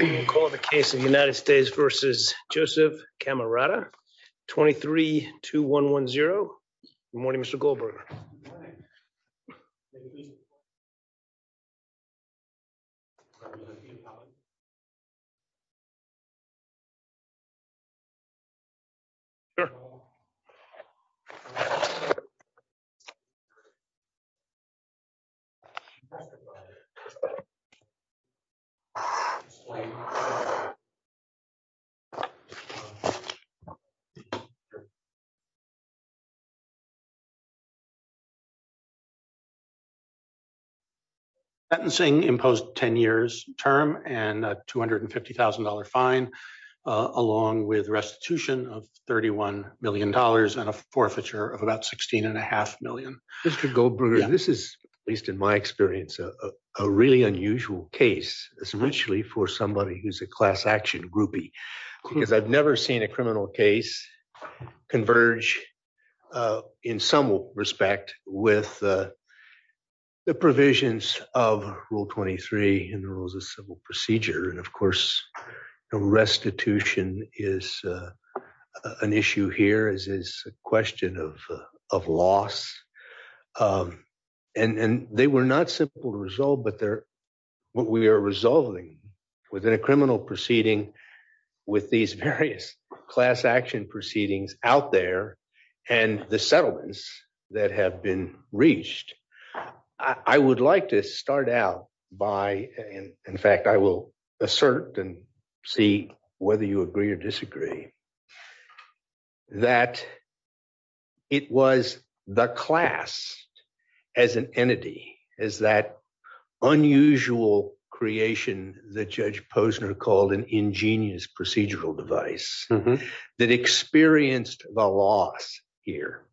23-2-1-1-0. Good morning, Mr. Goldberger. Good morning. Mr. Goldberger, this is, at least in my experience, a really unusual case. It's richly for somebody who's a class action groupie, because I've never seen a criminal case converge in some criminal respect with the provisions of Rule 23 and the Rules of Civil Procedure. And of course, restitution is an issue here as is a question of loss. And they were not simple to resolve, but what we are resolving within a criminal proceeding with these various class action proceedings out there and the settlements that have been reached. I would like to start out by, in fact, I will assert and see whether you agree or disagree, that it was the class as an entity, as that unusual creation that Judge Posner called an ingenious procedural device, that experienced the loss here,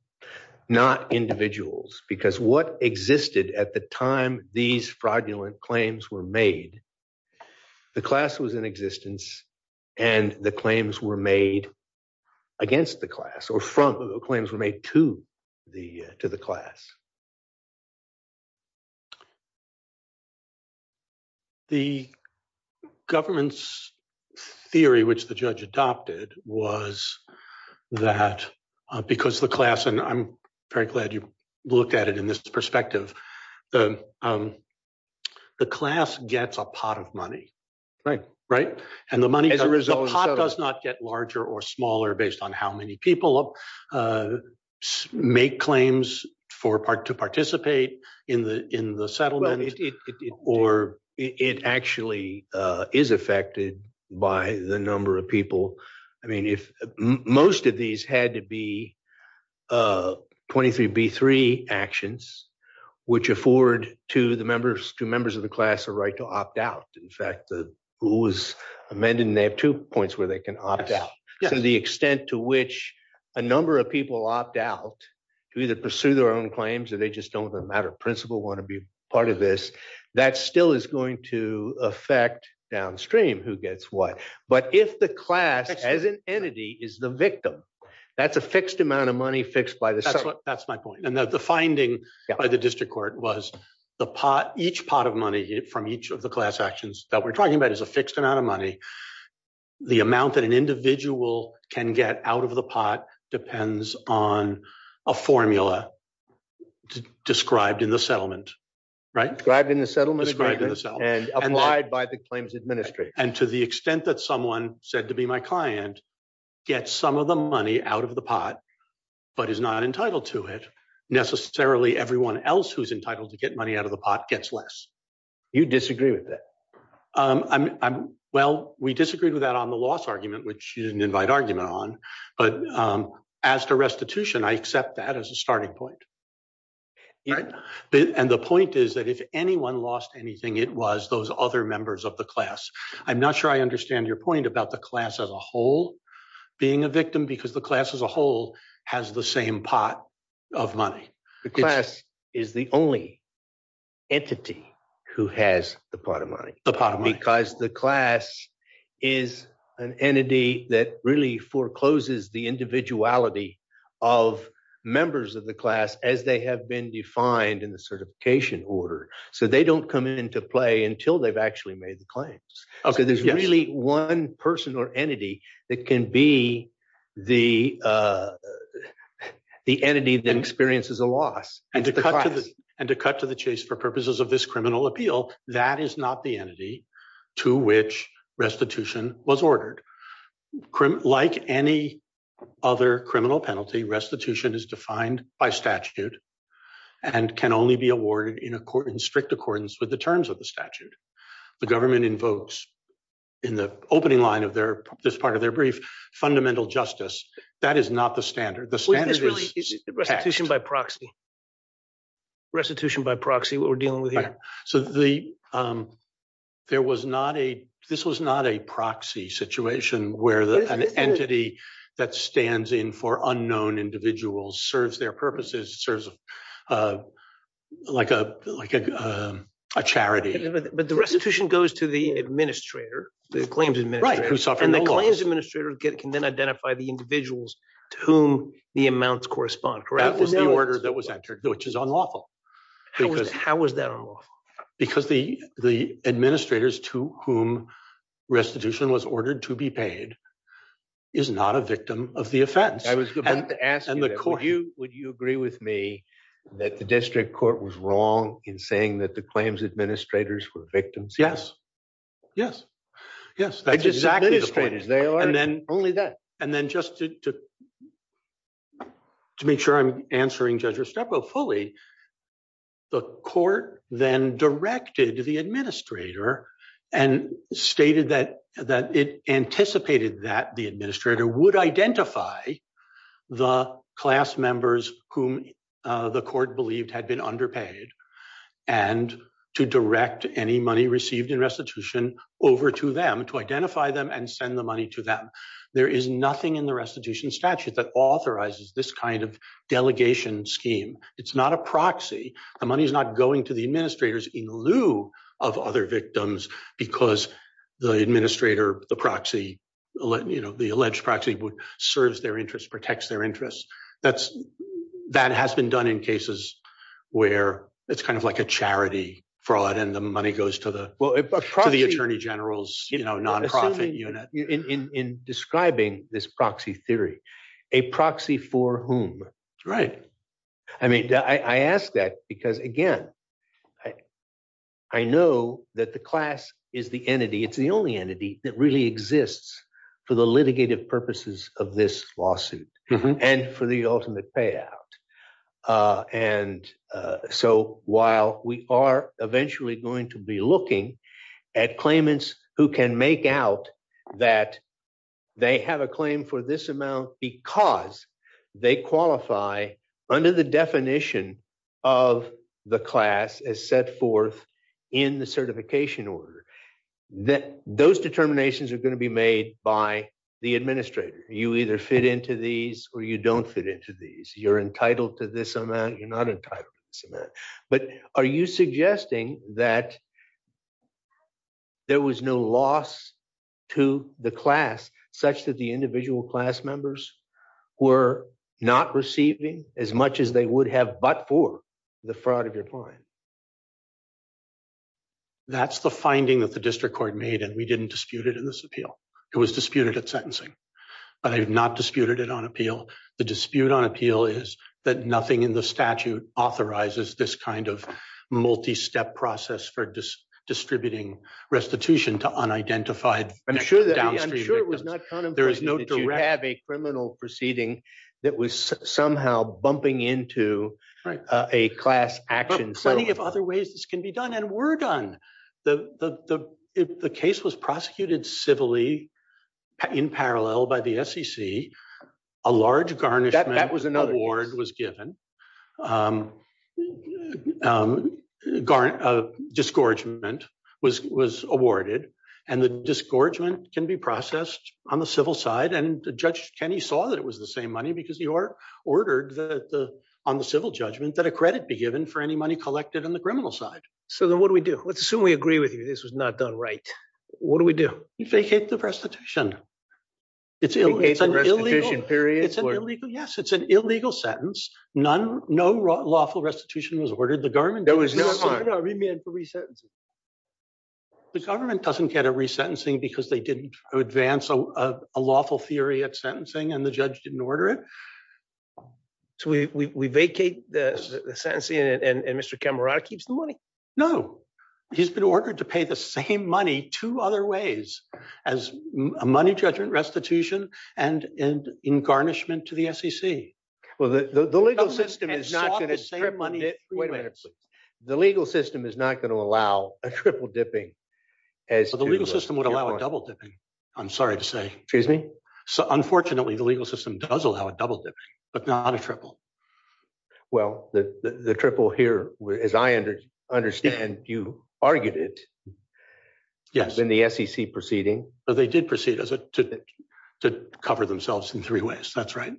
not individuals. Because what existed at the time these fraudulent claims were made, the class was in existence and the claims were made against the class or from claims were made to the class. The government's theory, which the judge adopted, was that because the class, and I'm very glad you looked at it in this perspective, the class gets a pot of money, right? And the pot does not get larger or smaller based on how many people make claims to participate in the settlement, or it actually is affected by the number of people. I mean, most of these had to be 23B3 actions, which afford to members of the class a right to opt out. In fact, the rule was amended and they have two points where they can the extent to which a number of people opt out to either pursue their own claims or they just don't with a matter of principle want to be part of this, that still is going to affect downstream, who gets what. But if the class as an entity is the victim, that's a fixed amount of money fixed by the settlement. That's my point. And the finding by the district court was each pot of money from each of the class actions that we're talking about is a fixed amount of money. The amount that an individual can get out of the pot depends on a formula described in the settlement, right? Described in the settlement and applied by the claims administrator. And to the extent that someone said to be my client, get some of the money out of the pot, but is not entitled to it, necessarily everyone else who's entitled to get money out of the pot gets less. You disagree with that? Well, we disagreed with that on the loss argument, which you didn't invite argument on. But as to restitution, I accept that as a starting point. And the point is that if anyone lost anything, it was those other members of the class. I'm not sure I understand your point about the class as a whole being a victim, because the class as a whole has the same pot of money. The class is the only entity who has the pot of money. The pot of money. Because the class is an entity that really forecloses the individuality of members of the class as they have been defined in the certification order. So they don't come into play until they've actually made the claims. Okay. There's really one person or entity that can be the entity that experiences a loss. And to cut to the appeal, that is not the entity to which restitution was ordered. Like any other criminal penalty, restitution is defined by statute and can only be awarded in strict accordance with the terms of the statute. The government invokes in the opening line of this part of their brief, fundamental justice. That is not the standard. The standard is text. Restitution by proxy. Restitution by proxy, what we're dealing with here. So there was not a, this was not a proxy situation where an entity that stands in for unknown individuals serves their purposes, serves like a charity. But the restitution goes to the administrator, the claims administrator. Right. Who suffers no loss. And the claims administrator can then identify the individuals to whom the which is unlawful. How was that unlawful? Because the administrators to whom restitution was ordered to be paid is not a victim of the offense. I was about to ask you, would you agree with me that the district court was wrong in saying that the claims administrators were victims? Yes. Yes. Yes. That's exactly the point. And then just to make sure I'm answering Judge Trepo fully, the court then directed the administrator and stated that it anticipated that the administrator would identify the class members whom the court believed had been underpaid and to direct any money received in restitution over to them to identify them and send the money to them. There is nothing in the restitution statute that authorizes this kind of delegation scheme. It's not a proxy. The money is not going to the administrators in lieu of other victims because the administrator, the proxy, you know, the alleged proxy serves their interests, protects their interests. That's that has been done in cases where it's kind of like a charity fraud and the money goes to the attorney general's nonprofit unit. In describing this proxy theory, a proxy for whom? Right. I mean, I ask that because, again, I know that the class is the entity. It's the only entity that really exists for the litigative purposes of this lawsuit and for the ultimate payout. And so while we are eventually going to be looking at claimants who can make out that they have a claim for this amount because they qualify under the definition of the class as set forth in the certification order, that those determinations are going to be made by the administrator. You either fit into these or you don't fit into these. You're entitled to this amount. You're not entitled to this amount. But are you suggesting that there was no loss to the class such that the individual class members were not receiving as much as they would have but for the fraud of your client? That's the finding that the district court made and we didn't dispute it in this appeal. It was disputed at sentencing, but I've not disputed it on appeal. The dispute on appeal is that nothing in the statute authorizes this kind of multi-step process for distributing restitution to unidentified downstream victims. I'm sure it was not contemplated that you have a criminal proceeding that was somehow bumping into a class action. But plenty of other ways this can be done and were done. The case was prosecuted civilly in parallel by the SEC, a large garnishment award was given, disgorgement was awarded, and the disgorgement can be processed on the civil side. And Judge Kenney saw that it was the same money because he ordered on the civil judgment that a credit be given for any money collected on the criminal side. So then what do we do? Let's assume we agree with you this was not done right. What do we do? We vacate the restitution. It's illegal. Yes, it's an illegal sentence. No lawful restitution was ordered. The government doesn't get a resentencing because they didn't advance a lawful theory at sentencing and the judge didn't order it. So we vacate the sentencing and Mr. Camerota keeps the money. No, he's been to pay the same money two other ways as a money judgment restitution and in garnishment to the SEC. The legal system is not going to allow a triple dipping. The legal system would allow a double dipping. I'm sorry to say. Excuse me? Unfortunately, the legal system does allow a triple dipping, but not a triple. Well, the triple here, as I understand, you argued it. Yes. In the SEC proceeding. They did proceed to cover themselves in three ways. That's right.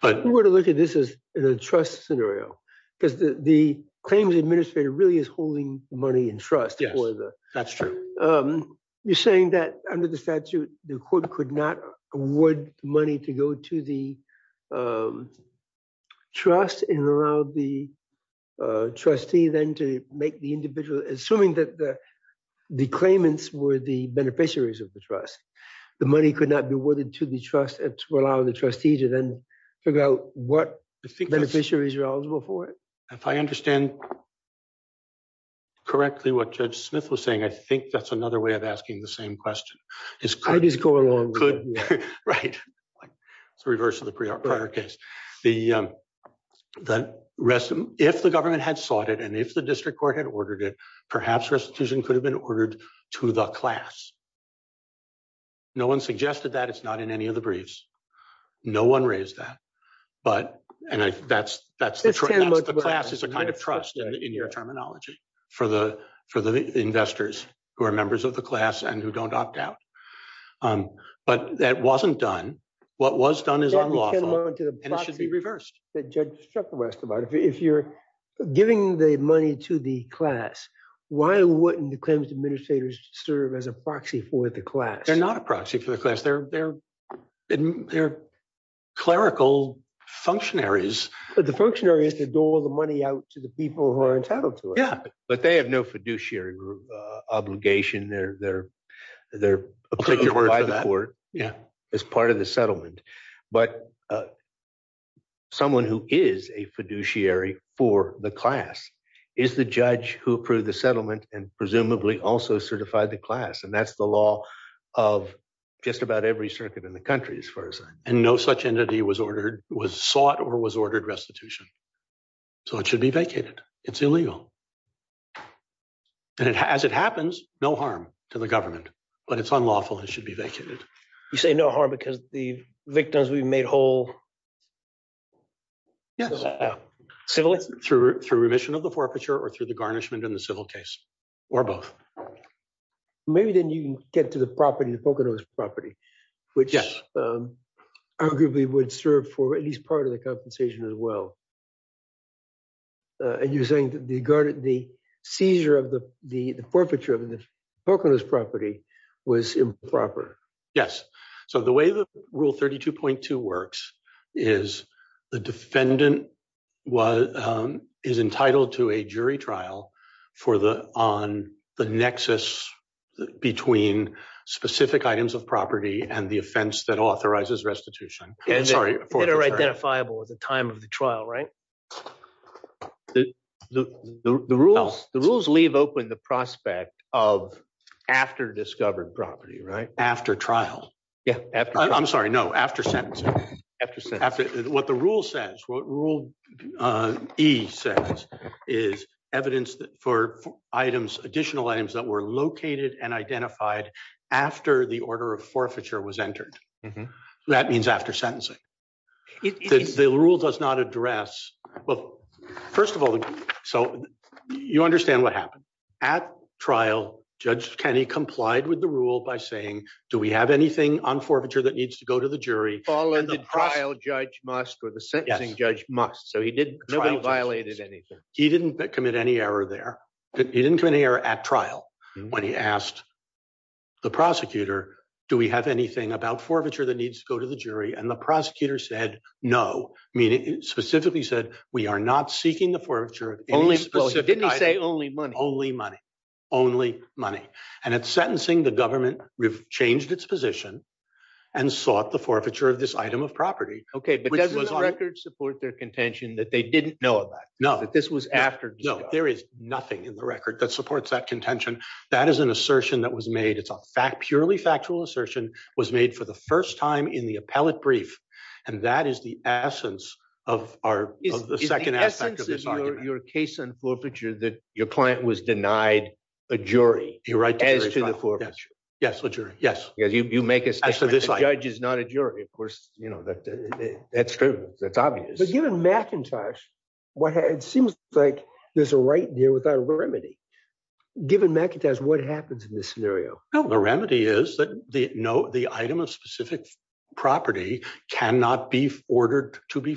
But we're going to look at this as a trust scenario because the claims administrator really is holding money in trust. Yes, that's true. You're saying that under the statute, the court could not award money to go to the trust and allow the trustee then to make the individual assuming that the claimants were the beneficiaries of the trust. The money could not be awarded to the trust and to allow the trustee to then figure out what beneficiaries are eligible for it. If I understand correctly what Judge Smith was saying, I think that's another way of asking the same question. I just go along with it. Right. It's the reverse of the prior case. If the government had sought it and if the district court had ordered it, perhaps restitution could have been ordered to the class. No one suggested that. It's not in any of the briefs. No one raised that. But that's the class. It's a kind of trust in your terminology for the investors who are members of the class and who don't opt out. But that wasn't done. What was done is unlawful and it should be reversed. If you're giving the money to the class, why wouldn't the claims administrators serve as a proxy for the class? They're not a proxy for the class. They're clerical functionaries. The functionary is to dole the money out to the people who are entitled to it. But they have no fiduciary obligation. They're approved by the court as part of the settlement. But someone who is a fiduciary for the class is the judge who approved the settlement and presumably also certified the class. And that's the law of just about every circuit in the country and no such entity was sought or was ordered restitution. So it should be vacated. It's illegal. And as it happens, no harm to the government. But it's unlawful. It should be vacated. You say no harm because the victims will be made whole? Yes. Through remission of the forfeiture or through the garnishment in the civil case or both. Maybe then you get to the property, the Poconos property, which arguably would serve for at least part of the compensation as well. And you're saying the seizure of the forfeiture of the Poconos property was improper? Yes. So the way that Rule 32.2 works is the defendant is entitled to a jury trial for the on the nexus between specific items of property and the offense that authorizes restitution. It's identifiable at the time of the trial, right? The rules leave open the prospect of after discovered property, right? After trial. Yeah. I'm sorry. No. After sentencing. What the rule says, what Rule E says is evidence for items, additional items that were located and identified after the order of forfeiture was entered. That means after sentencing. The rule does not address. Well, first of all, so you understand what happened. At trial, Judge Kenney complied with the rule by saying, do we have anything on forfeiture that needs to go to the trial? Judge must or the sentencing judge must. So he didn't. Nobody violated anything. He didn't commit any error there. He didn't commit any error at trial when he asked the prosecutor, do we have anything about forfeiture that needs to go to the jury? And the prosecutor said, no. I mean, it specifically said we are not seeking the forfeiture of any specific. Didn't he say only money? Only money. Only money. And at sentencing, the government changed its position and sought the forfeiture of this item of property. Okay. But doesn't the record support their contention that they didn't know about? No. That this was after. No, there is nothing in the record that supports that contention. That is an assertion that was made. It's a fact, purely factual assertion was made for the first time in the appellate brief. And that is the essence of our second aspect of this argument. Is the essence of your case on forfeiture that your client was denied a jury as to the forfeiture? Yes. A jury. Yes. Because you make a statement. The judge is not a jury. Of course, you know, that's true. That's obvious. But given McIntosh, it seems like there's a right there without a remedy. Given McIntosh, what happens in this scenario? The remedy is that the item of specific property cannot be ordered to be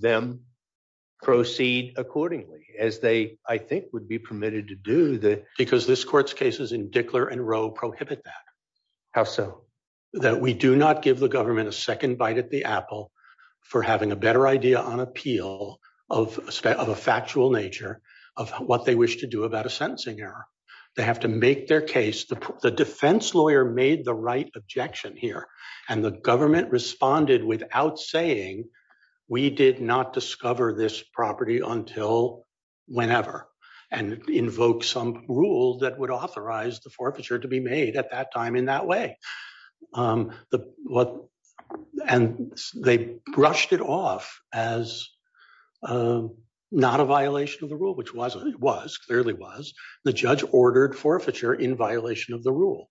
them proceed accordingly as they, I think, would be permitted to do that. Because this court's cases in Dickler and Rowe prohibit that. How so? That we do not give the government a second bite at the apple for having a better idea on appeal of a factual nature of what they wish to do about a sentencing error. They have to make their case. The defense lawyer made the right objection here. And the government responded without saying we did not discover this property until whenever. And invoke some rule that would authorize the forfeiture to be made at that time in that way. And they brushed it off as not a violation of the rule, which it was, the judge ordered forfeiture in violation of the rule.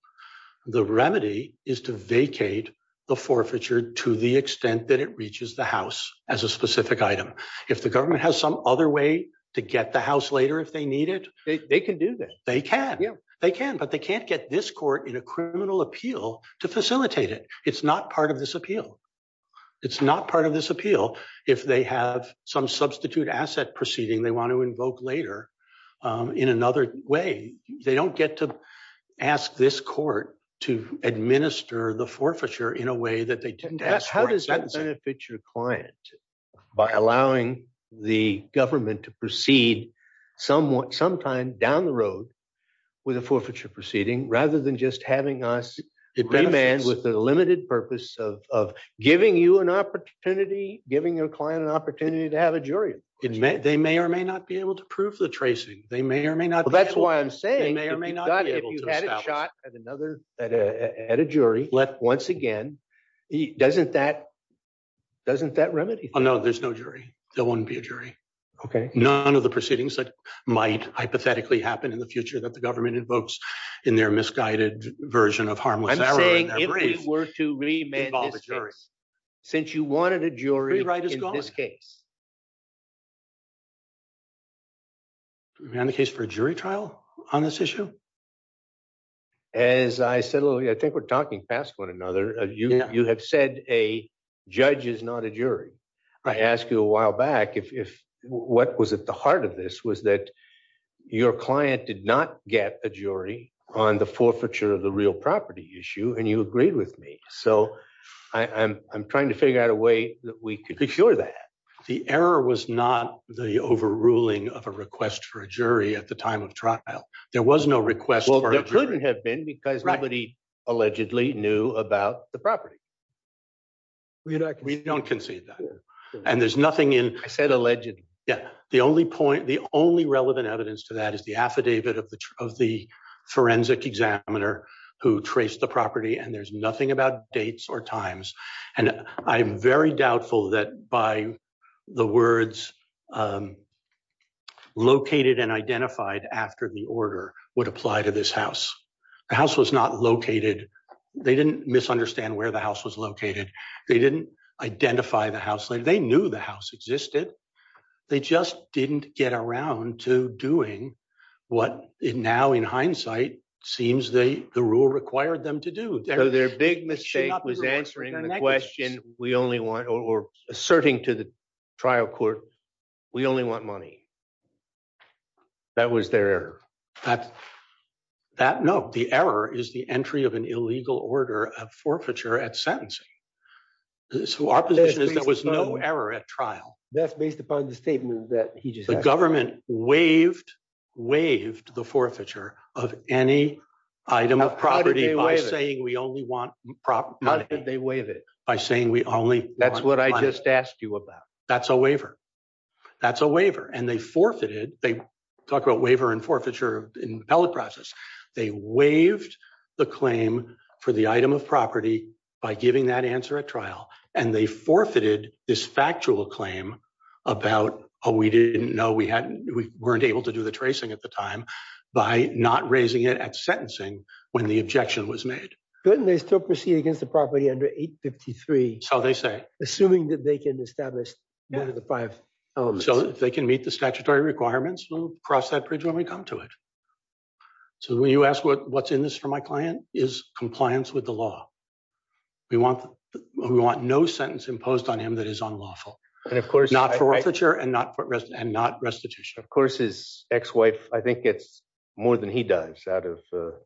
The remedy is to vacate the forfeiture to the extent that it reaches the house as a specific item. If the government has some other way to get the house later if they need it, they can do that. They can. They can. But they can't get this court in a criminal appeal to facilitate it. It's not part of this appeal. It's not part of this appeal if they have some substitute asset proceeding they want to invoke later in another way. They don't get to ask this court to administer the forfeiture in a way that they didn't ask. How does that benefit your client by allowing the government to proceed somewhat sometime down the road with a forfeiture proceeding rather than just having us with the limited purpose of giving you an opportunity, giving your client an opportunity to have a jury? They may or may not be able to prove the tracing. They may or may not. That's why I'm saying they may or may not be able to have a shot at another at a jury. Let once again, doesn't that doesn't that remedy? Oh no, there's no jury. There won't be a jury. Okay. None of the proceedings that might hypothetically happen in the future that the government invokes in their misguided version of Harmless Hour. I'm saying if we were to remand this case, since you wanted a jury in this case. Remand the case for a jury trial on this issue? As I said earlier, I think we're talking past one another. You have said a judge is not a jury. I asked you a while back if what was at the heart of this was that your client did not get a jury on the forfeiture of the real property issue and you agreed with me. So I'm trying to figure out a way that we could procure that. The error was not the overruling of a request for a jury at the time of trial. There was no request. Well, there couldn't have been because nobody allegedly knew about the property. We don't concede that and there's said allegedly. The only point, the only relevant evidence to that is the affidavit of the forensic examiner who traced the property and there's nothing about dates or times. And I'm very doubtful that by the words located and identified after the order would apply to this house. The house was not located. They didn't misunderstand where the house was located. They didn't identify the house. They knew the house existed. They just didn't get around to doing what now in hindsight seems the rule required them to do. So their big mistake was answering the question or asserting to the trial court, we only want money. That was their error. No, the error is the entry of an illegal order of forfeiture at sentencing. So our position is there was no error at trial. That's based upon the statement that he just said. The government waived the forfeiture of any item of property by saying we only want proper money. How did they waive it? By saying we only want money. That's what I just asked you about. That's a waiver. That's a waiver and they forfeited. They talk about waiver and forfeiture in the appellate process. They waived the claim for the item of property by giving that answer at trial and they forfeited this factual claim about oh we didn't know we hadn't we weren't able to do the tracing at the time by not raising it at sentencing when the objection was made. Couldn't they still proceed against the property under 853? So they say. Assuming that they can establish one of the five. So if they can meet the statutory requirements we'll cross that bridge when we come to it. So when you ask what what's in this for my client is compliance with the law. We want we want no sentence imposed on him that is unlawful. And of course not for forfeiture and not for rest and not restitution. Of course his ex-wife I think gets more than he does out of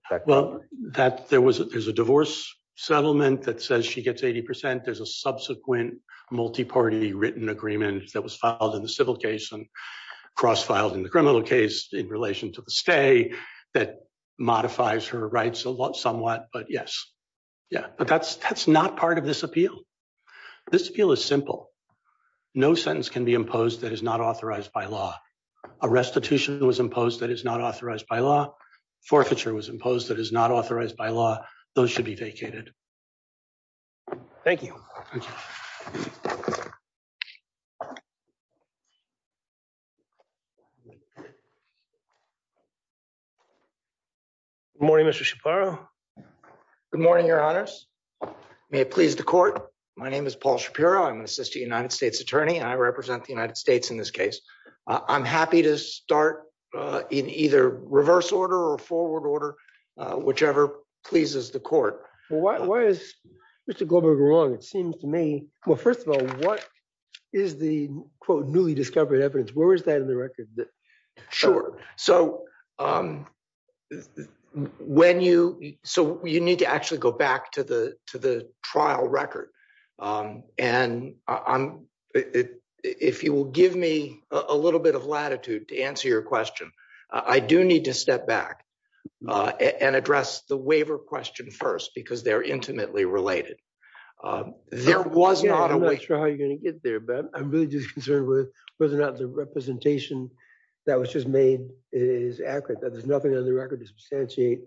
that. Well that there was there's a divorce settlement that says she gets 80 percent. There's a subsequent multi-party written agreement that was filed in the civil case and cross-filed in the criminal case in relation to the stay that modifies her rights a lot somewhat. But yes yeah but that's that's not part of this appeal. This appeal is simple. No sentence can be imposed that is not authorized by law. A restitution was imposed that is not authorized by law. Forfeiture was imposed that is not authorized by law. Those should be vacated. Thank you. Good morning Mr. Shapiro. Good morning your honors. May it please the court. My name is Paul Shapiro. I'm an assistant United States attorney and I represent the United States in this case. I'm happy to start in either reverse order or forward order whichever pleases the court. Why is Mr. Goldberg wrong? It seems to me well first of all what is the quote newly discovered evidence? Where is that in the record? Sure so when you so you need to actually go back to the to the trial record and I'm if you will give me a little bit of latitude to answer your question. I do need to step back and address the waiver question first because they're intimately related. There was not a way. I'm not sure how you're going to get there but I'm really just concerned with whether or not the representation that was just made is accurate. That there's nothing on the record to substantiate.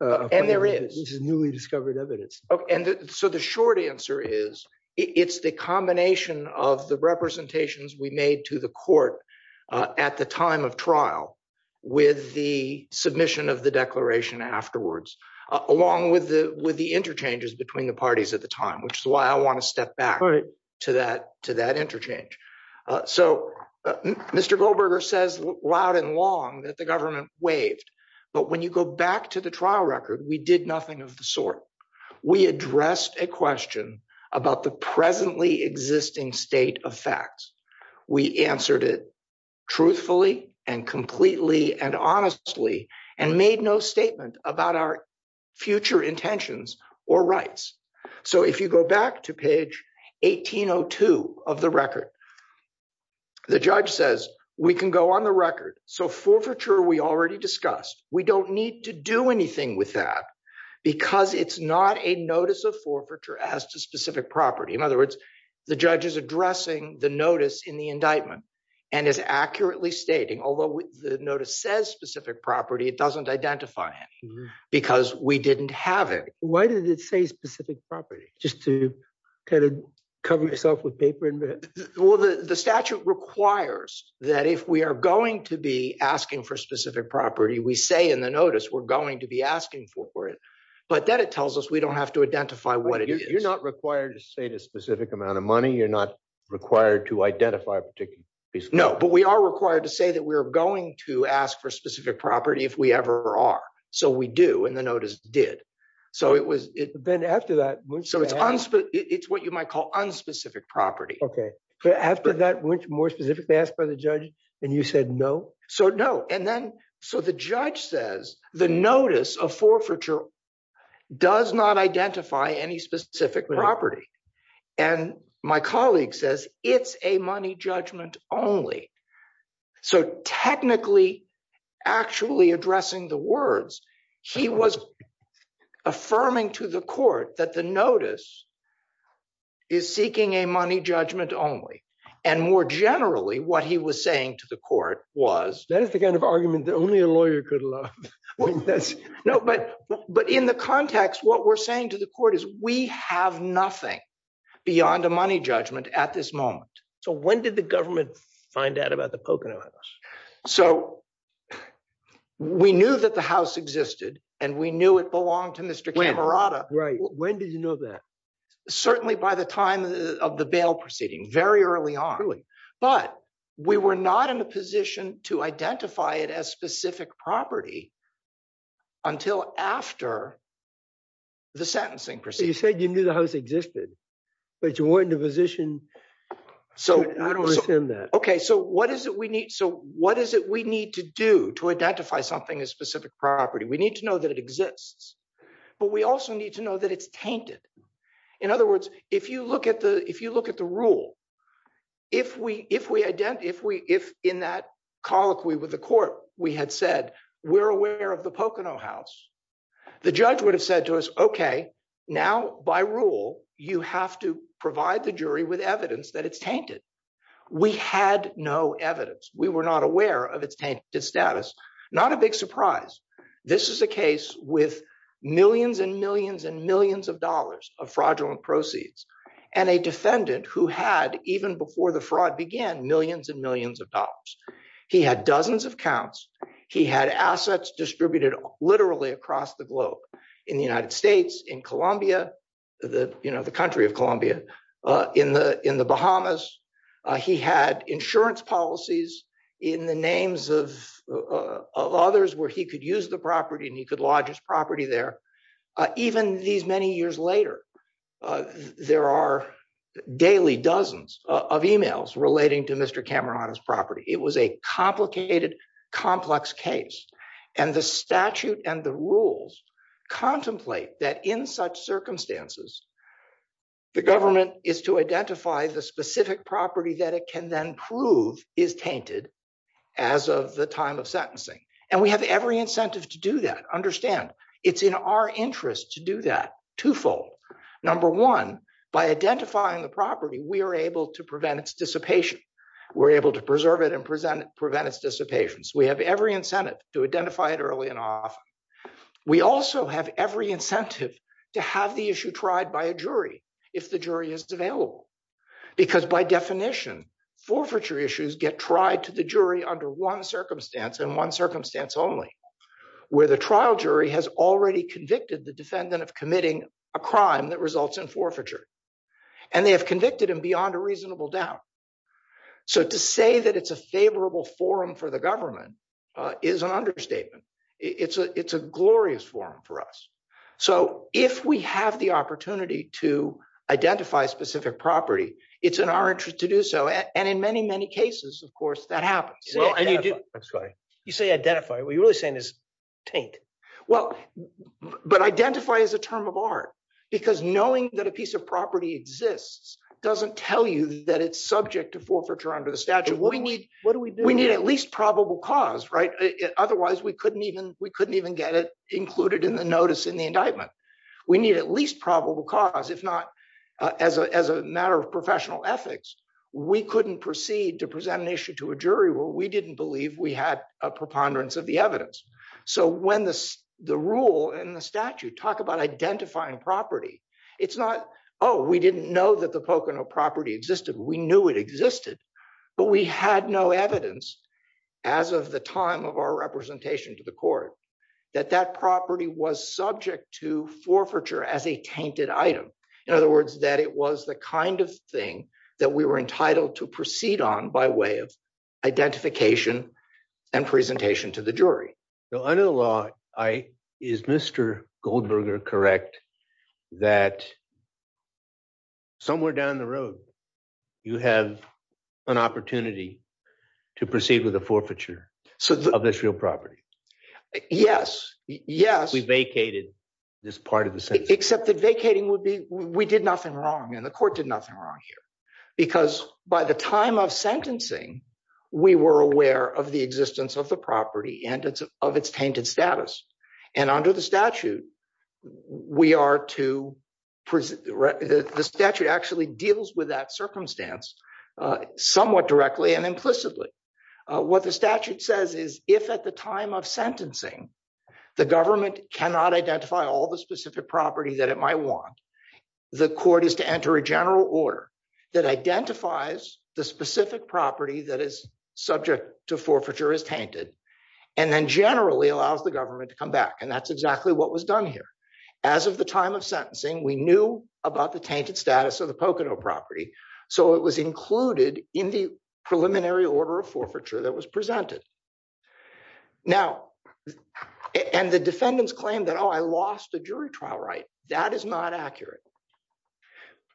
And there is. This is newly discovered evidence. Okay and so the short answer is it's the combination of the representations we made to the court at the time of trial with the submission of the declaration afterwards along with the with the interchanges between the parties at the time which is why I want to step back to that to that interchange. So Mr. Goldberger says loud and long that the government waived but when you go back to the trial record we did nothing of the sort. We addressed a question about the presently existing state of facts. We answered it truthfully and completely and honestly and made no statement about our future intentions or rights. So if you go back to page 1802 of the record the judge says we can go on the record so forfeiture we already discussed we don't need to do anything with that because it's not a notice of forfeiture as to specific property. In other the judge is addressing the notice in the indictment and is accurately stating although the notice says specific property it doesn't identify it because we didn't have it. Why did it say specific property just to kind of cover yourself with paper? Well the statute requires that if we are going to be asking for specific property we say in the notice we're going to be asking for it but then it tells us we don't have to identify what it is. You're not required to a specific amount of money you're not required to identify a particular piece? No but we are required to say that we're going to ask for specific property if we ever are so we do and the notice did. So it was it then after that so it's unspecified it's what you might call unspecific property. Okay but after that which more specifically asked by the judge and you said no? So no and then so the judge says the notice of forfeiture does not identify any specific property and my colleague says it's a money judgment only. So technically actually addressing the words he was affirming to the court that the notice is seeking a money judgment only and more generally what he was saying to the court was. That is the kind of argument that only a lawyer could love. No but in the context what we're saying to the court is we have nothing beyond a money judgment at this moment. So when did the government find out about the Pocono House? So we knew that the house existed and we knew it belonged to Mr. Camerata. Right when did you know that? Certainly by the time of the bail proceeding very early on but we were not in a position to identify it as specific property until after the sentencing You said you knew the house existed but you weren't in a position to assume that. Okay so what is it we need to do to identify something as specific property? We need to know that it exists but we also need to know that it's tainted. In other words if you look at the rule if in that colloquy with the court we had said we're aware of the Pocono House the judge would have said to us okay now by rule you have to provide the jury with evidence that it's tainted. We had no evidence. We were not aware of its tainted status. Not a big surprise. This is a case with millions and millions and millions of dollars of fraudulent proceeds and a defendant who had even before the fraud began millions and millions of dollars. He had dozens of accounts. He had assets distributed literally across the globe in the United States, in Colombia, the country of Colombia, in the in the Bahamas. He had insurance policies in the names of others where he could use the property and he could lodge his property there. Even these many years later there are daily dozens of emails relating to Cameron's property. It was a complicated complex case and the statute and the rules contemplate that in such circumstances the government is to identify the specific property that it can then prove is tainted as of the time of sentencing and we have every incentive to do that. Understand it's in our interest to do that twofold. Number one by identifying the property we are able to prevent its dissipation. We're able to preserve it and prevent its dissipation. So we have every incentive to identify it early and often. We also have every incentive to have the issue tried by a jury if the jury is available because by definition forfeiture issues get tried to the jury under one circumstance and one circumstance only where the trial jury has already convicted the defendant of committing a crime that results in forfeiture and they have convicted him beyond a reasonable doubt. So to say that it's a favorable forum for the government is an understatement. It's a glorious forum for us. So if we have the opportunity to identify specific property it's in our interest to do so and in many many cases of course that happens. Well and you do that's right you say identify what you're really saying is taint. Well but identify as a term of art because knowing that a piece of property exists doesn't tell you that it's subject to forfeiture under the statute. We need at least probable cause right otherwise we couldn't even we couldn't even get it included in the notice in the indictment. We need at least probable cause if not as a as a matter of professional ethics we couldn't proceed to present an issue to a jury where we didn't believe we had a preponderance of the evidence. So when the the rule and the statute talk about identifying property it's not oh we didn't know that the Pocono property existed we knew it existed but we had no evidence as of the time of our representation to the court that that property was subject to forfeiture as a tainted item. In other words that it was the kind of thing that we were entitled to proceed on by way of identification and presentation to the jury. So under the law I is Mr. Goldberger correct that somewhere down the road you have an opportunity to proceed with a forfeiture so of this real property. Yes yes. We vacated this part of the sentence. Except that vacating would be we did nothing wrong and the court did nothing wrong here because by the time of sentencing we were aware of the existence of the property and of its tainted status and under the statute we are to present the statute actually deals with that circumstance somewhat directly and implicitly. What the statute says is if at the time of sentencing the government cannot identify all the specific property that it might want the court is to enter a general order that identifies the specific property that is subject to forfeiture as tainted and then generally allows the government to come back and that's exactly what was done here. As of the time of sentencing we knew about the tainted status of the Pocono property so it was included in the preliminary order of forfeiture that was presented. Now and the defendants claim that oh I lost a jury trial right that is not accurate.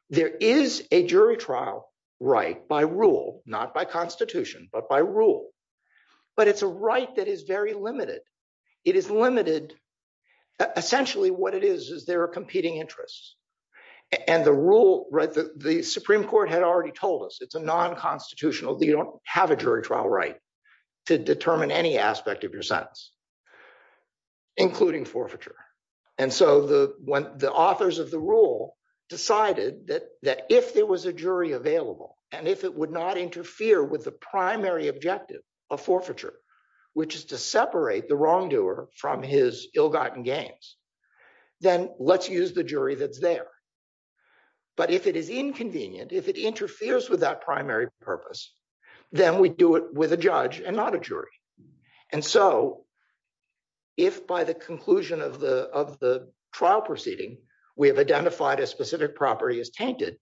There is a jury trial right by rule not by constitution but by rule but it's a right that is very limited. It is limited essentially what it is is there are competing interests and the rule right the supreme court had already told us it's a non-constitutional you don't have a jury trial right to determine any aspect of your sentence including forfeiture and so the when the authors of the rule decided that that if there was a jury available and if it would not interfere with the primary objective of forfeiture which is to separate the wrongdoer from his ill-gotten gains then let's use the jury that's there. But if it is inconvenient if it interferes with that primary purpose then we do it with a judge and not a jury and so if by the conclusion of the of the trial proceeding we have identified a specific property is tainted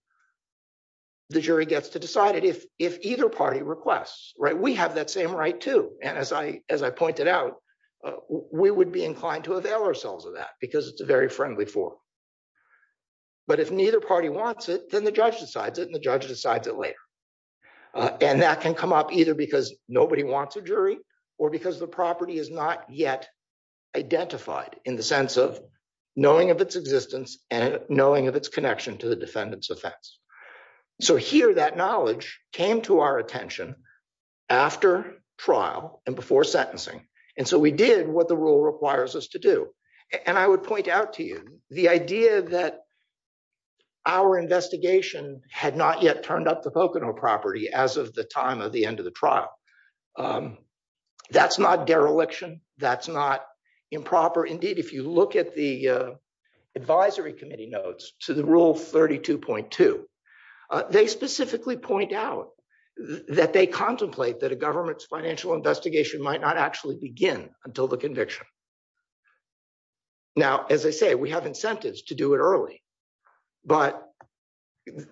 the jury gets to decide it if if either party requests right we have that same right too and as I as I pointed out we would be inclined to avail ourselves of that because it's a very friendly form but if neither party wants it then the judge decides it and the or because the property is not yet identified in the sense of knowing of its existence and knowing of its connection to the defendant's offense. So here that knowledge came to our attention after trial and before sentencing and so we did what the rule requires us to do and I would point out to you the idea that our investigation had not yet turned up the Pocono property as of the time of the end of the trial. That's not dereliction that's not improper indeed if you look at the advisory committee notes to the rule 32.2 they specifically point out that they contemplate that a government's financial investigation might not actually begin until the conviction. Now as I say we have incentives to do it early but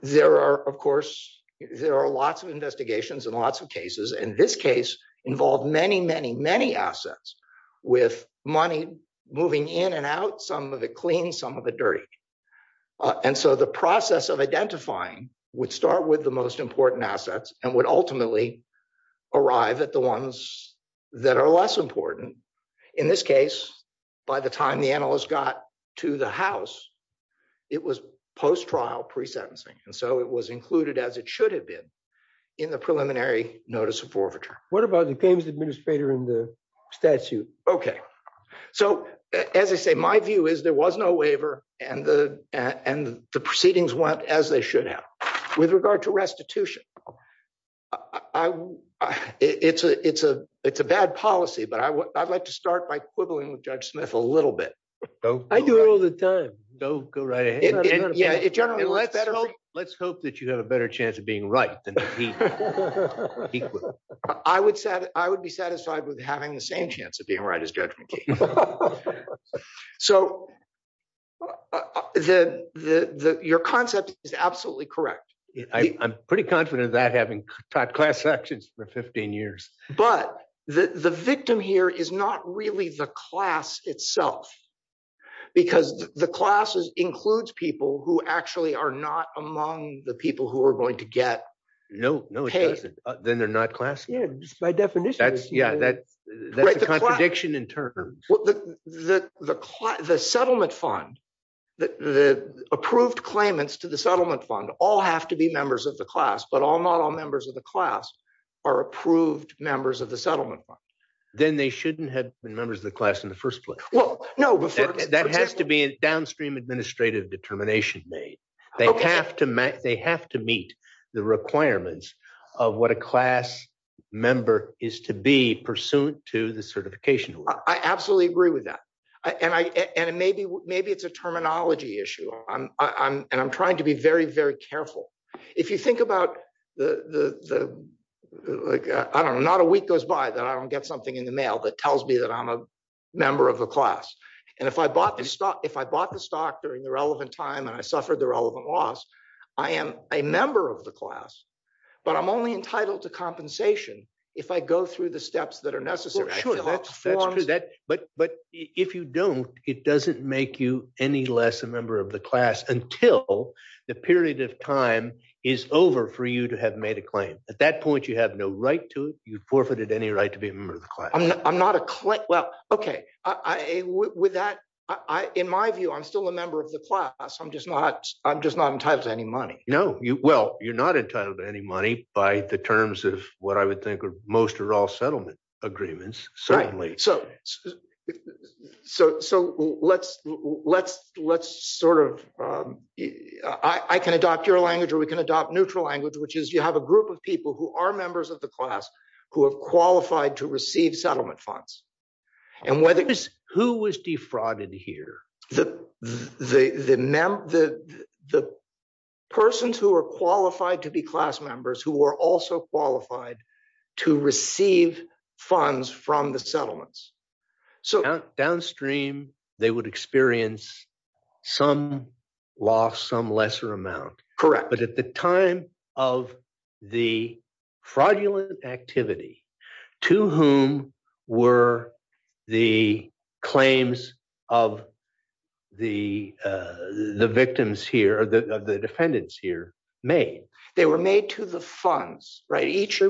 there are of course there are lots of investigations and lots of cases and this case involved many many many assets with money moving in and out some of it clean some of it dirty and so the process of identifying would start with the most important assets and would ultimately arrive at the ones that are less important. In this case by the time the analyst got to the house it was post-trial pre-sentencing and so it was included as it should have been in the preliminary notice of forfeiture. What about the claims administrator in the statute? Okay so as I say my view is there was no waiver and the and the proceedings went as they should have. With regard to restitution I it's a it's a it's a bad policy but I would I'd like to start by quibbling with Judge Smith a little bit. I do it all the time. Go go right ahead. Let's hope that you have a better chance of being right. I would be satisfied with having the same chance of being right as Judge McKee. So your concept is absolutely correct. I'm pretty confident of that having taught class actions for 15 years. But the the victim here is not really the class itself because the classes includes people who actually are not among the people who are going to get paid. No no it doesn't then they're not class. Yeah just by definition. That's yeah that's that's the contradiction in terms. Well the the the settlement fund the the approved claimants to the settlement fund all have to be members of the class but all not all members of the class are approved members of the settlement fund. Then they shouldn't have been members of the class in the first place. Well no that has to be a downstream administrative determination made. They have to make they have to meet the requirements of what a class member is to be pursuant to the certification. I absolutely agree with that. I and I and maybe maybe it's a terminology issue. I'm I'm and I'm trying to be very very careful. If you think about the the like I don't know not a week goes by that I don't get something in the mail that tells me that I'm a member of the class. And if I bought this stock if I bought the stock during the relevant time and I suffered the relevant loss I am a member of the class. But I'm only entitled to compensation if I go through the steps that are necessary. Sure that's true that but but if you don't it doesn't make you any less a member of the class until the period of time is over for you to have made a claim. At that point you have no right to it. You forfeited any right to be a member of the class. I'm not a class well okay I with that I in my view I'm still a member of the class. I'm just not I'm just not entitled to any money. No you well you're not entitled to any money by the terms of what I would think are most or all settlement agreements certainly. So so so let's let's let's sort of I I can adopt your language or we can adopt neutral language which is you have a group of people who are members of the class who have qualified to receive settlement funds. And whether who was defrauded here the the the the the persons who are qualified to be class members who were also qualified to receive funds from the settlements. So downstream they would experience some loss some lesser amount. Correct. But at the time of the fraudulent activity to whom were the claims of the the victims here the the defendants here made? They were made to the funds right each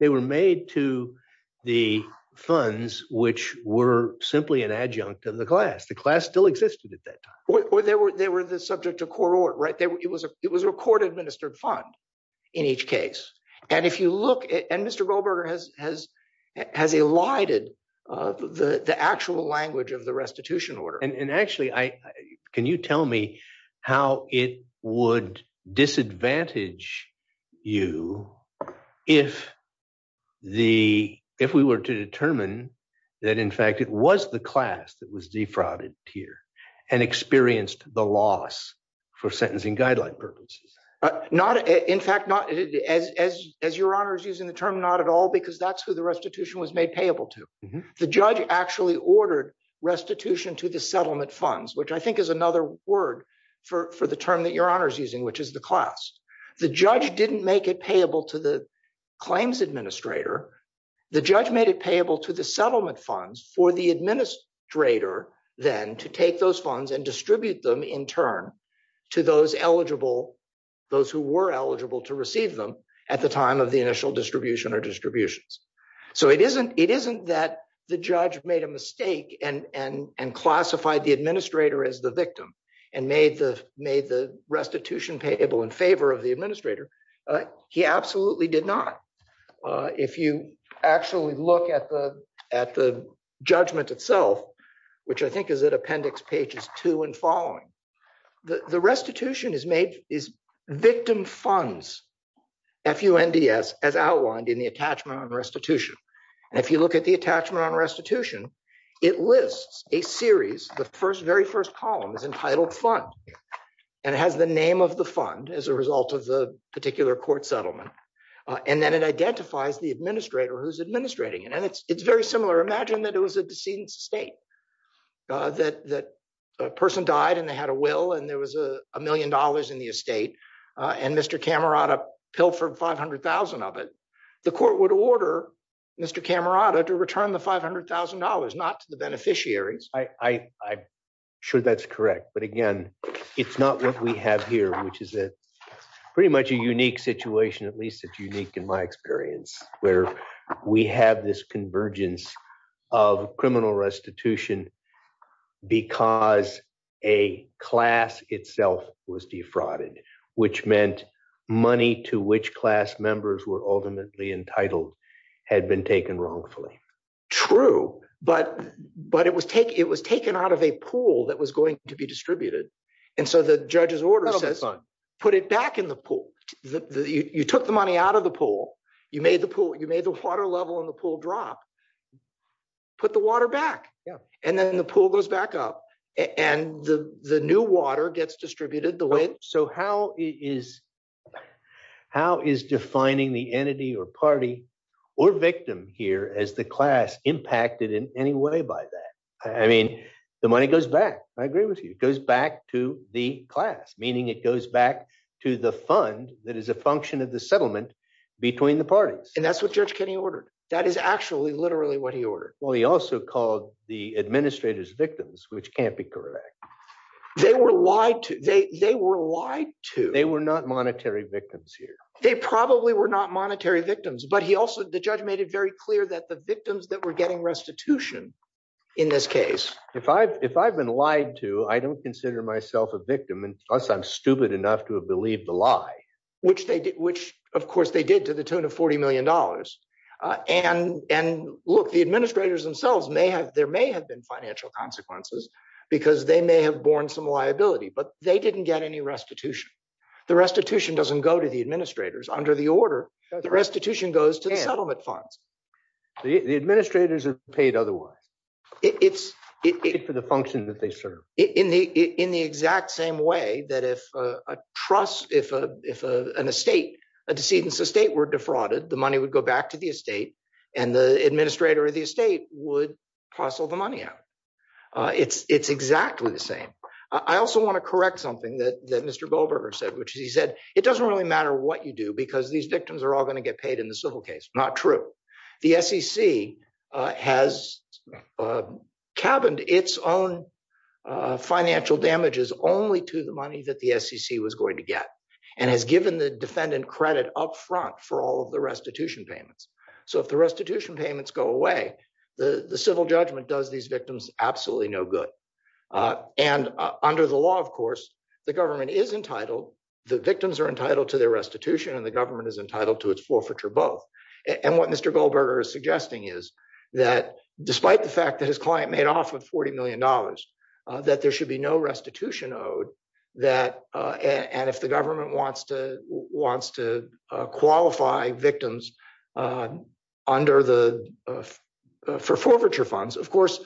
they were made to the funds which were simply an adjunct of the class. The class still existed at that time. Or they were they were the subject of court order right there it was a it was a court administered fund in each case. And if you look and Mr. Goldberger has has has elided the the actual language of the restitution order. And disadvantage you if the if we were to determine that in fact it was the class that was defrauded here and experienced the loss for sentencing guideline purposes. Not in fact not as as as your honor is using the term not at all because that's who the restitution was made payable to. The judge actually ordered restitution to the settlement funds which I think is another word for for the term that your honor is using which is the class. The judge didn't make it payable to the claims administrator. The judge made it payable to the settlement funds for the administrator then to take those funds and distribute them in turn to those eligible those who were eligible to receive them at the time of the initial distribution or distributions. So it isn't it isn't that the judge made a mistake and and and classified the administrator as the victim and made the made the restitution payable in favor of the administrator. He absolutely did not. If you actually look at the at the judgment itself which I think is at appendix pages two and following. The the restitution is made is victim funds f-u-n-d-s as outlined in the attachment on restitution. And if you look at the attachment on restitution it lists a series the first very first column is entitled fund. And it has the name of the fund as a result of the particular court settlement. And then it identifies the administrator who's administrating it. And it's it's very similar. Imagine that it was a decedent's estate. That that a person died and they had a will and there was a million dollars in the estate and Mr. Camerata pilfered five hundred thousand of it. The court would order Mr. Camerata to return the five hundred thousand dollars not the beneficiaries. I I'm sure that's correct. But again it's not what we have here which is a pretty much a unique situation. At least it's unique in my experience where we have this convergence of criminal restitution because a class itself was defrauded. Which meant money to which class members were ultimately entitled had been taken wrongfully. True. But but it was take it was taken out of a pool that was going to be distributed. And so the judge's order says put it back in the pool. You took the money out of the pool. You made the pool you made the water level in the pool drop. Put the water back. Yeah. And then the pool goes back up and the the new water gets distributed the way. So how is how is defining the entity or party or victim here as the class impacted in any way by that? I mean the money goes back. I agree with you. It goes back to the class. Meaning it goes back to the fund that is a function of the settlement between the parties. And that's what Judge Kenney ordered. That is actually literally what he ordered. Well he also called the administrators victims which can't be correct. They were lied to. They they were lied to. They were not monetary victims here. They probably were not monetary victims. But he also the judge made it very clear that the victims that were getting restitution in this case. If I've if I've been lied to I don't consider myself a victim and plus I'm stupid enough to have believed the lie. Which they did which of course they did to the tune of 40 million dollars. And and look the administrators themselves may have there may have been financial consequences because they may have borne some liability. But they didn't get any restitution. The restitution doesn't go to the administrators under the order. The restitution goes to the settlement funds. The administrators are paid otherwise. It's for the function that they serve. In the in the exact same way that if a trust if a if a an estate a decedent's estate were defrauded the money would go back to the estate and the administrator of the estate would parcel the money out. It's it's exactly the same. I also want to correct something that that Mr. Goldberger said. Which is he said it doesn't really matter what you do because these victims are all going to get paid in the civil case. Not true. The SEC has cabined its own financial damages only to the money that the SEC was going to get. And has given the defendant credit up front for all of the restitution payments. So if the restitution payments go away the the civil judgment does these victims absolutely no good. And under the law of course the government is entitled the victims are entitled to their restitution and the government is entitled to its forfeiture both. And what Mr. Goldberger is suggesting is that despite the fact that his client made off with 40 million dollars that there should be no restitution owed. That and if the government wants to qualify victims for forfeiture funds. Of course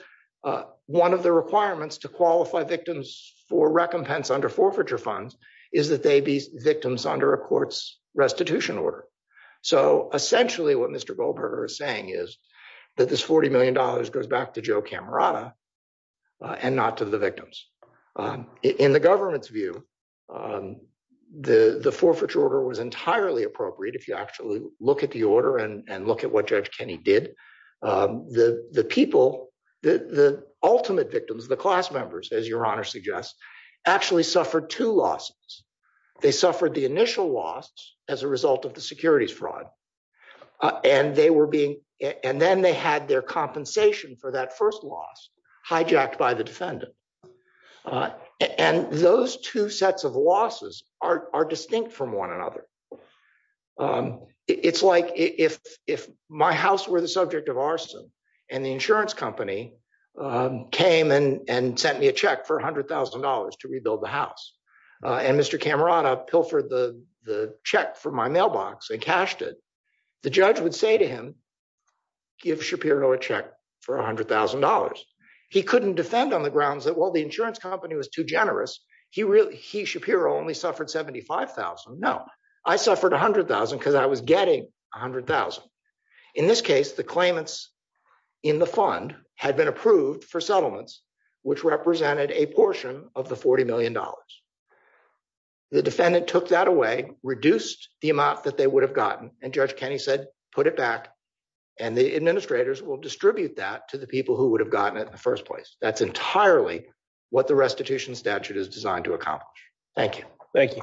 one of the requirements to qualify victims for recompense under forfeiture funds is that they be victims under a court's restitution order. So essentially what Mr. Goldberger is saying is that this 40 million dollars goes back to Joe The forfeiture order was entirely appropriate if you actually look at the order and look at what Judge Kenney did. The people, the ultimate victims, the class members as your honor suggests actually suffered two losses. They suffered the initial loss as a result of the securities fraud. And they were being and then they had their compensation for that first loss hijacked by the other. It's like if my house were the subject of arson and the insurance company came and sent me a check for a hundred thousand dollars to rebuild the house and Mr. Camerata pilfered the check from my mailbox and cashed it. The judge would say to him give Shapiro a check for a hundred thousand dollars. He couldn't defend on the grounds that while the insurance company was generous he really he Shapiro only suffered 75,000. No, I suffered a hundred thousand because I was getting a hundred thousand. In this case the claimants in the fund had been approved for settlements which represented a portion of the 40 million dollars. The defendant took that away reduced the amount that they would have gotten and Judge Kenney said put it back and the administrators will distribute that to the people who would have gotten it in the first place. That's entirely what the restitution statute is designed to accomplish. Thank you. Thank you.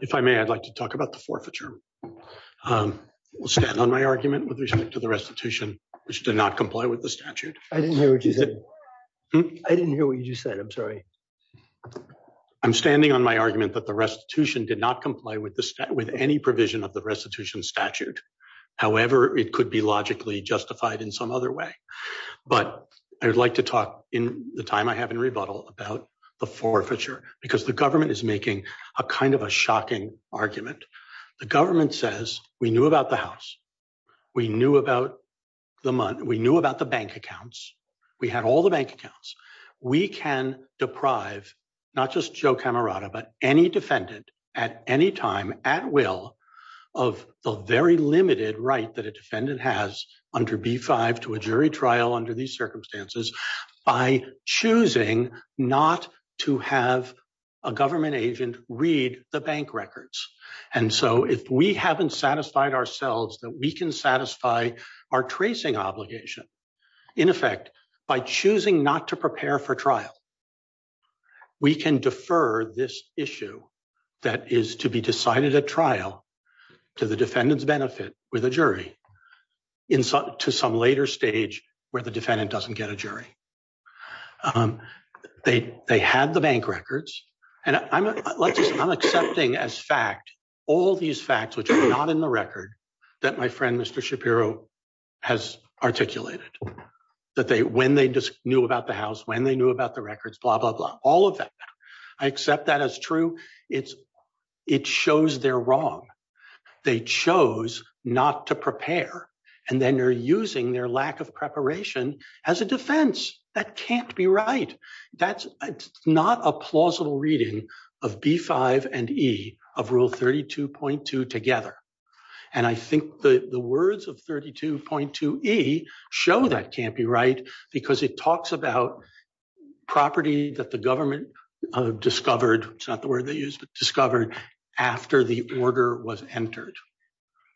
If I may I'd like to talk about the forfeiture. We'll stand on my argument with respect to the restitution which did not comply with the statute. I didn't hear what you said. I didn't hear what you said. I'm sorry. I'm standing on my argument that the restitution did not comply with the stat with any provision of the restitution statute. However, it could be logically justified in some other way. But I would like to talk in the time I have in rebuttal about the forfeiture because the government is making a kind of a shocking argument. The government says we knew about the house. We knew about the month. We knew about the bank accounts. We had all the bank accounts. We can deprive not just Joe Camerata but any defendant at any time at will of the very limited right that a defendant has under B-5 to a jury trial under these circumstances by choosing not to have a government agent read the bank records. And so if we haven't satisfied ourselves that we can satisfy our tracing obligation in effect by choosing not to prepare for trial, we can defer this issue that is to be decided at trial to the defendant's benefit with a jury to some later stage where the defendant doesn't get a jury. Um they they had the bank records and I'm let's just I'm accepting as fact all these facts which are not in the record that my friend Mr. Shapiro has articulated that they when they just knew about the house when they knew about the records blah blah blah all of that. I accept that as true it's it shows they're wrong. They chose not to prepare and then they're using their lack of preparation as a defense. That can't be right. That's not a plausible reading of B-5 and E of rule 32.2 together. And I think the the words of 32.2 E show that can't be right because it talks about property that the government uh discovered it's not the word they use but after the order was entered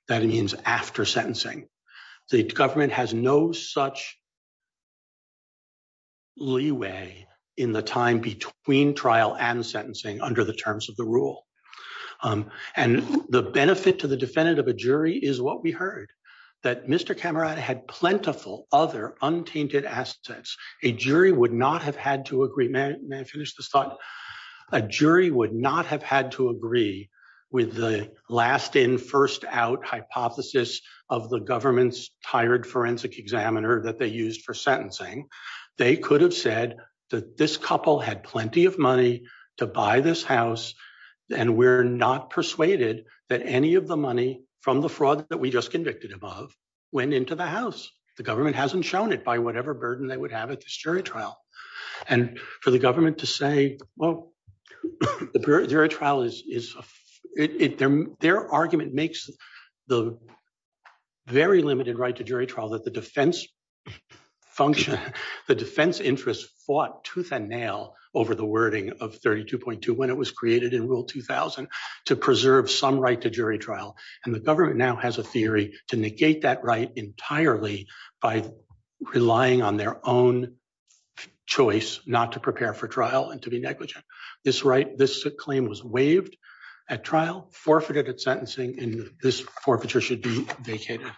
that means after sentencing the government has no such leeway in the time between trial and sentencing under the terms of the rule. And the benefit to the defendant of a jury is what we heard that Mr. Camerata had plentiful other untainted assets. A jury would not have had to agree may I finish this thought a jury would not have had to agree with the last in first out hypothesis of the government's tired forensic examiner that they used for sentencing. They could have said that this couple had plenty of money to buy this house and we're not persuaded that any of the money from the fraud that we just convicted above went into the house. The government hasn't shown it by burden they would have at this jury trial. And for the government to say well the jury trial is their argument makes the very limited right to jury trial that the defense function the defense interest fought tooth and nail over the wording of 32.2 when it was created in rule 2000 to preserve some right to jury trial. And the government now has a theory to negate that entirely by relying on their own choice not to prepare for trial and to be negligent. This right this claim was waived at trial forfeited at sentencing and this forfeiture should be vacated.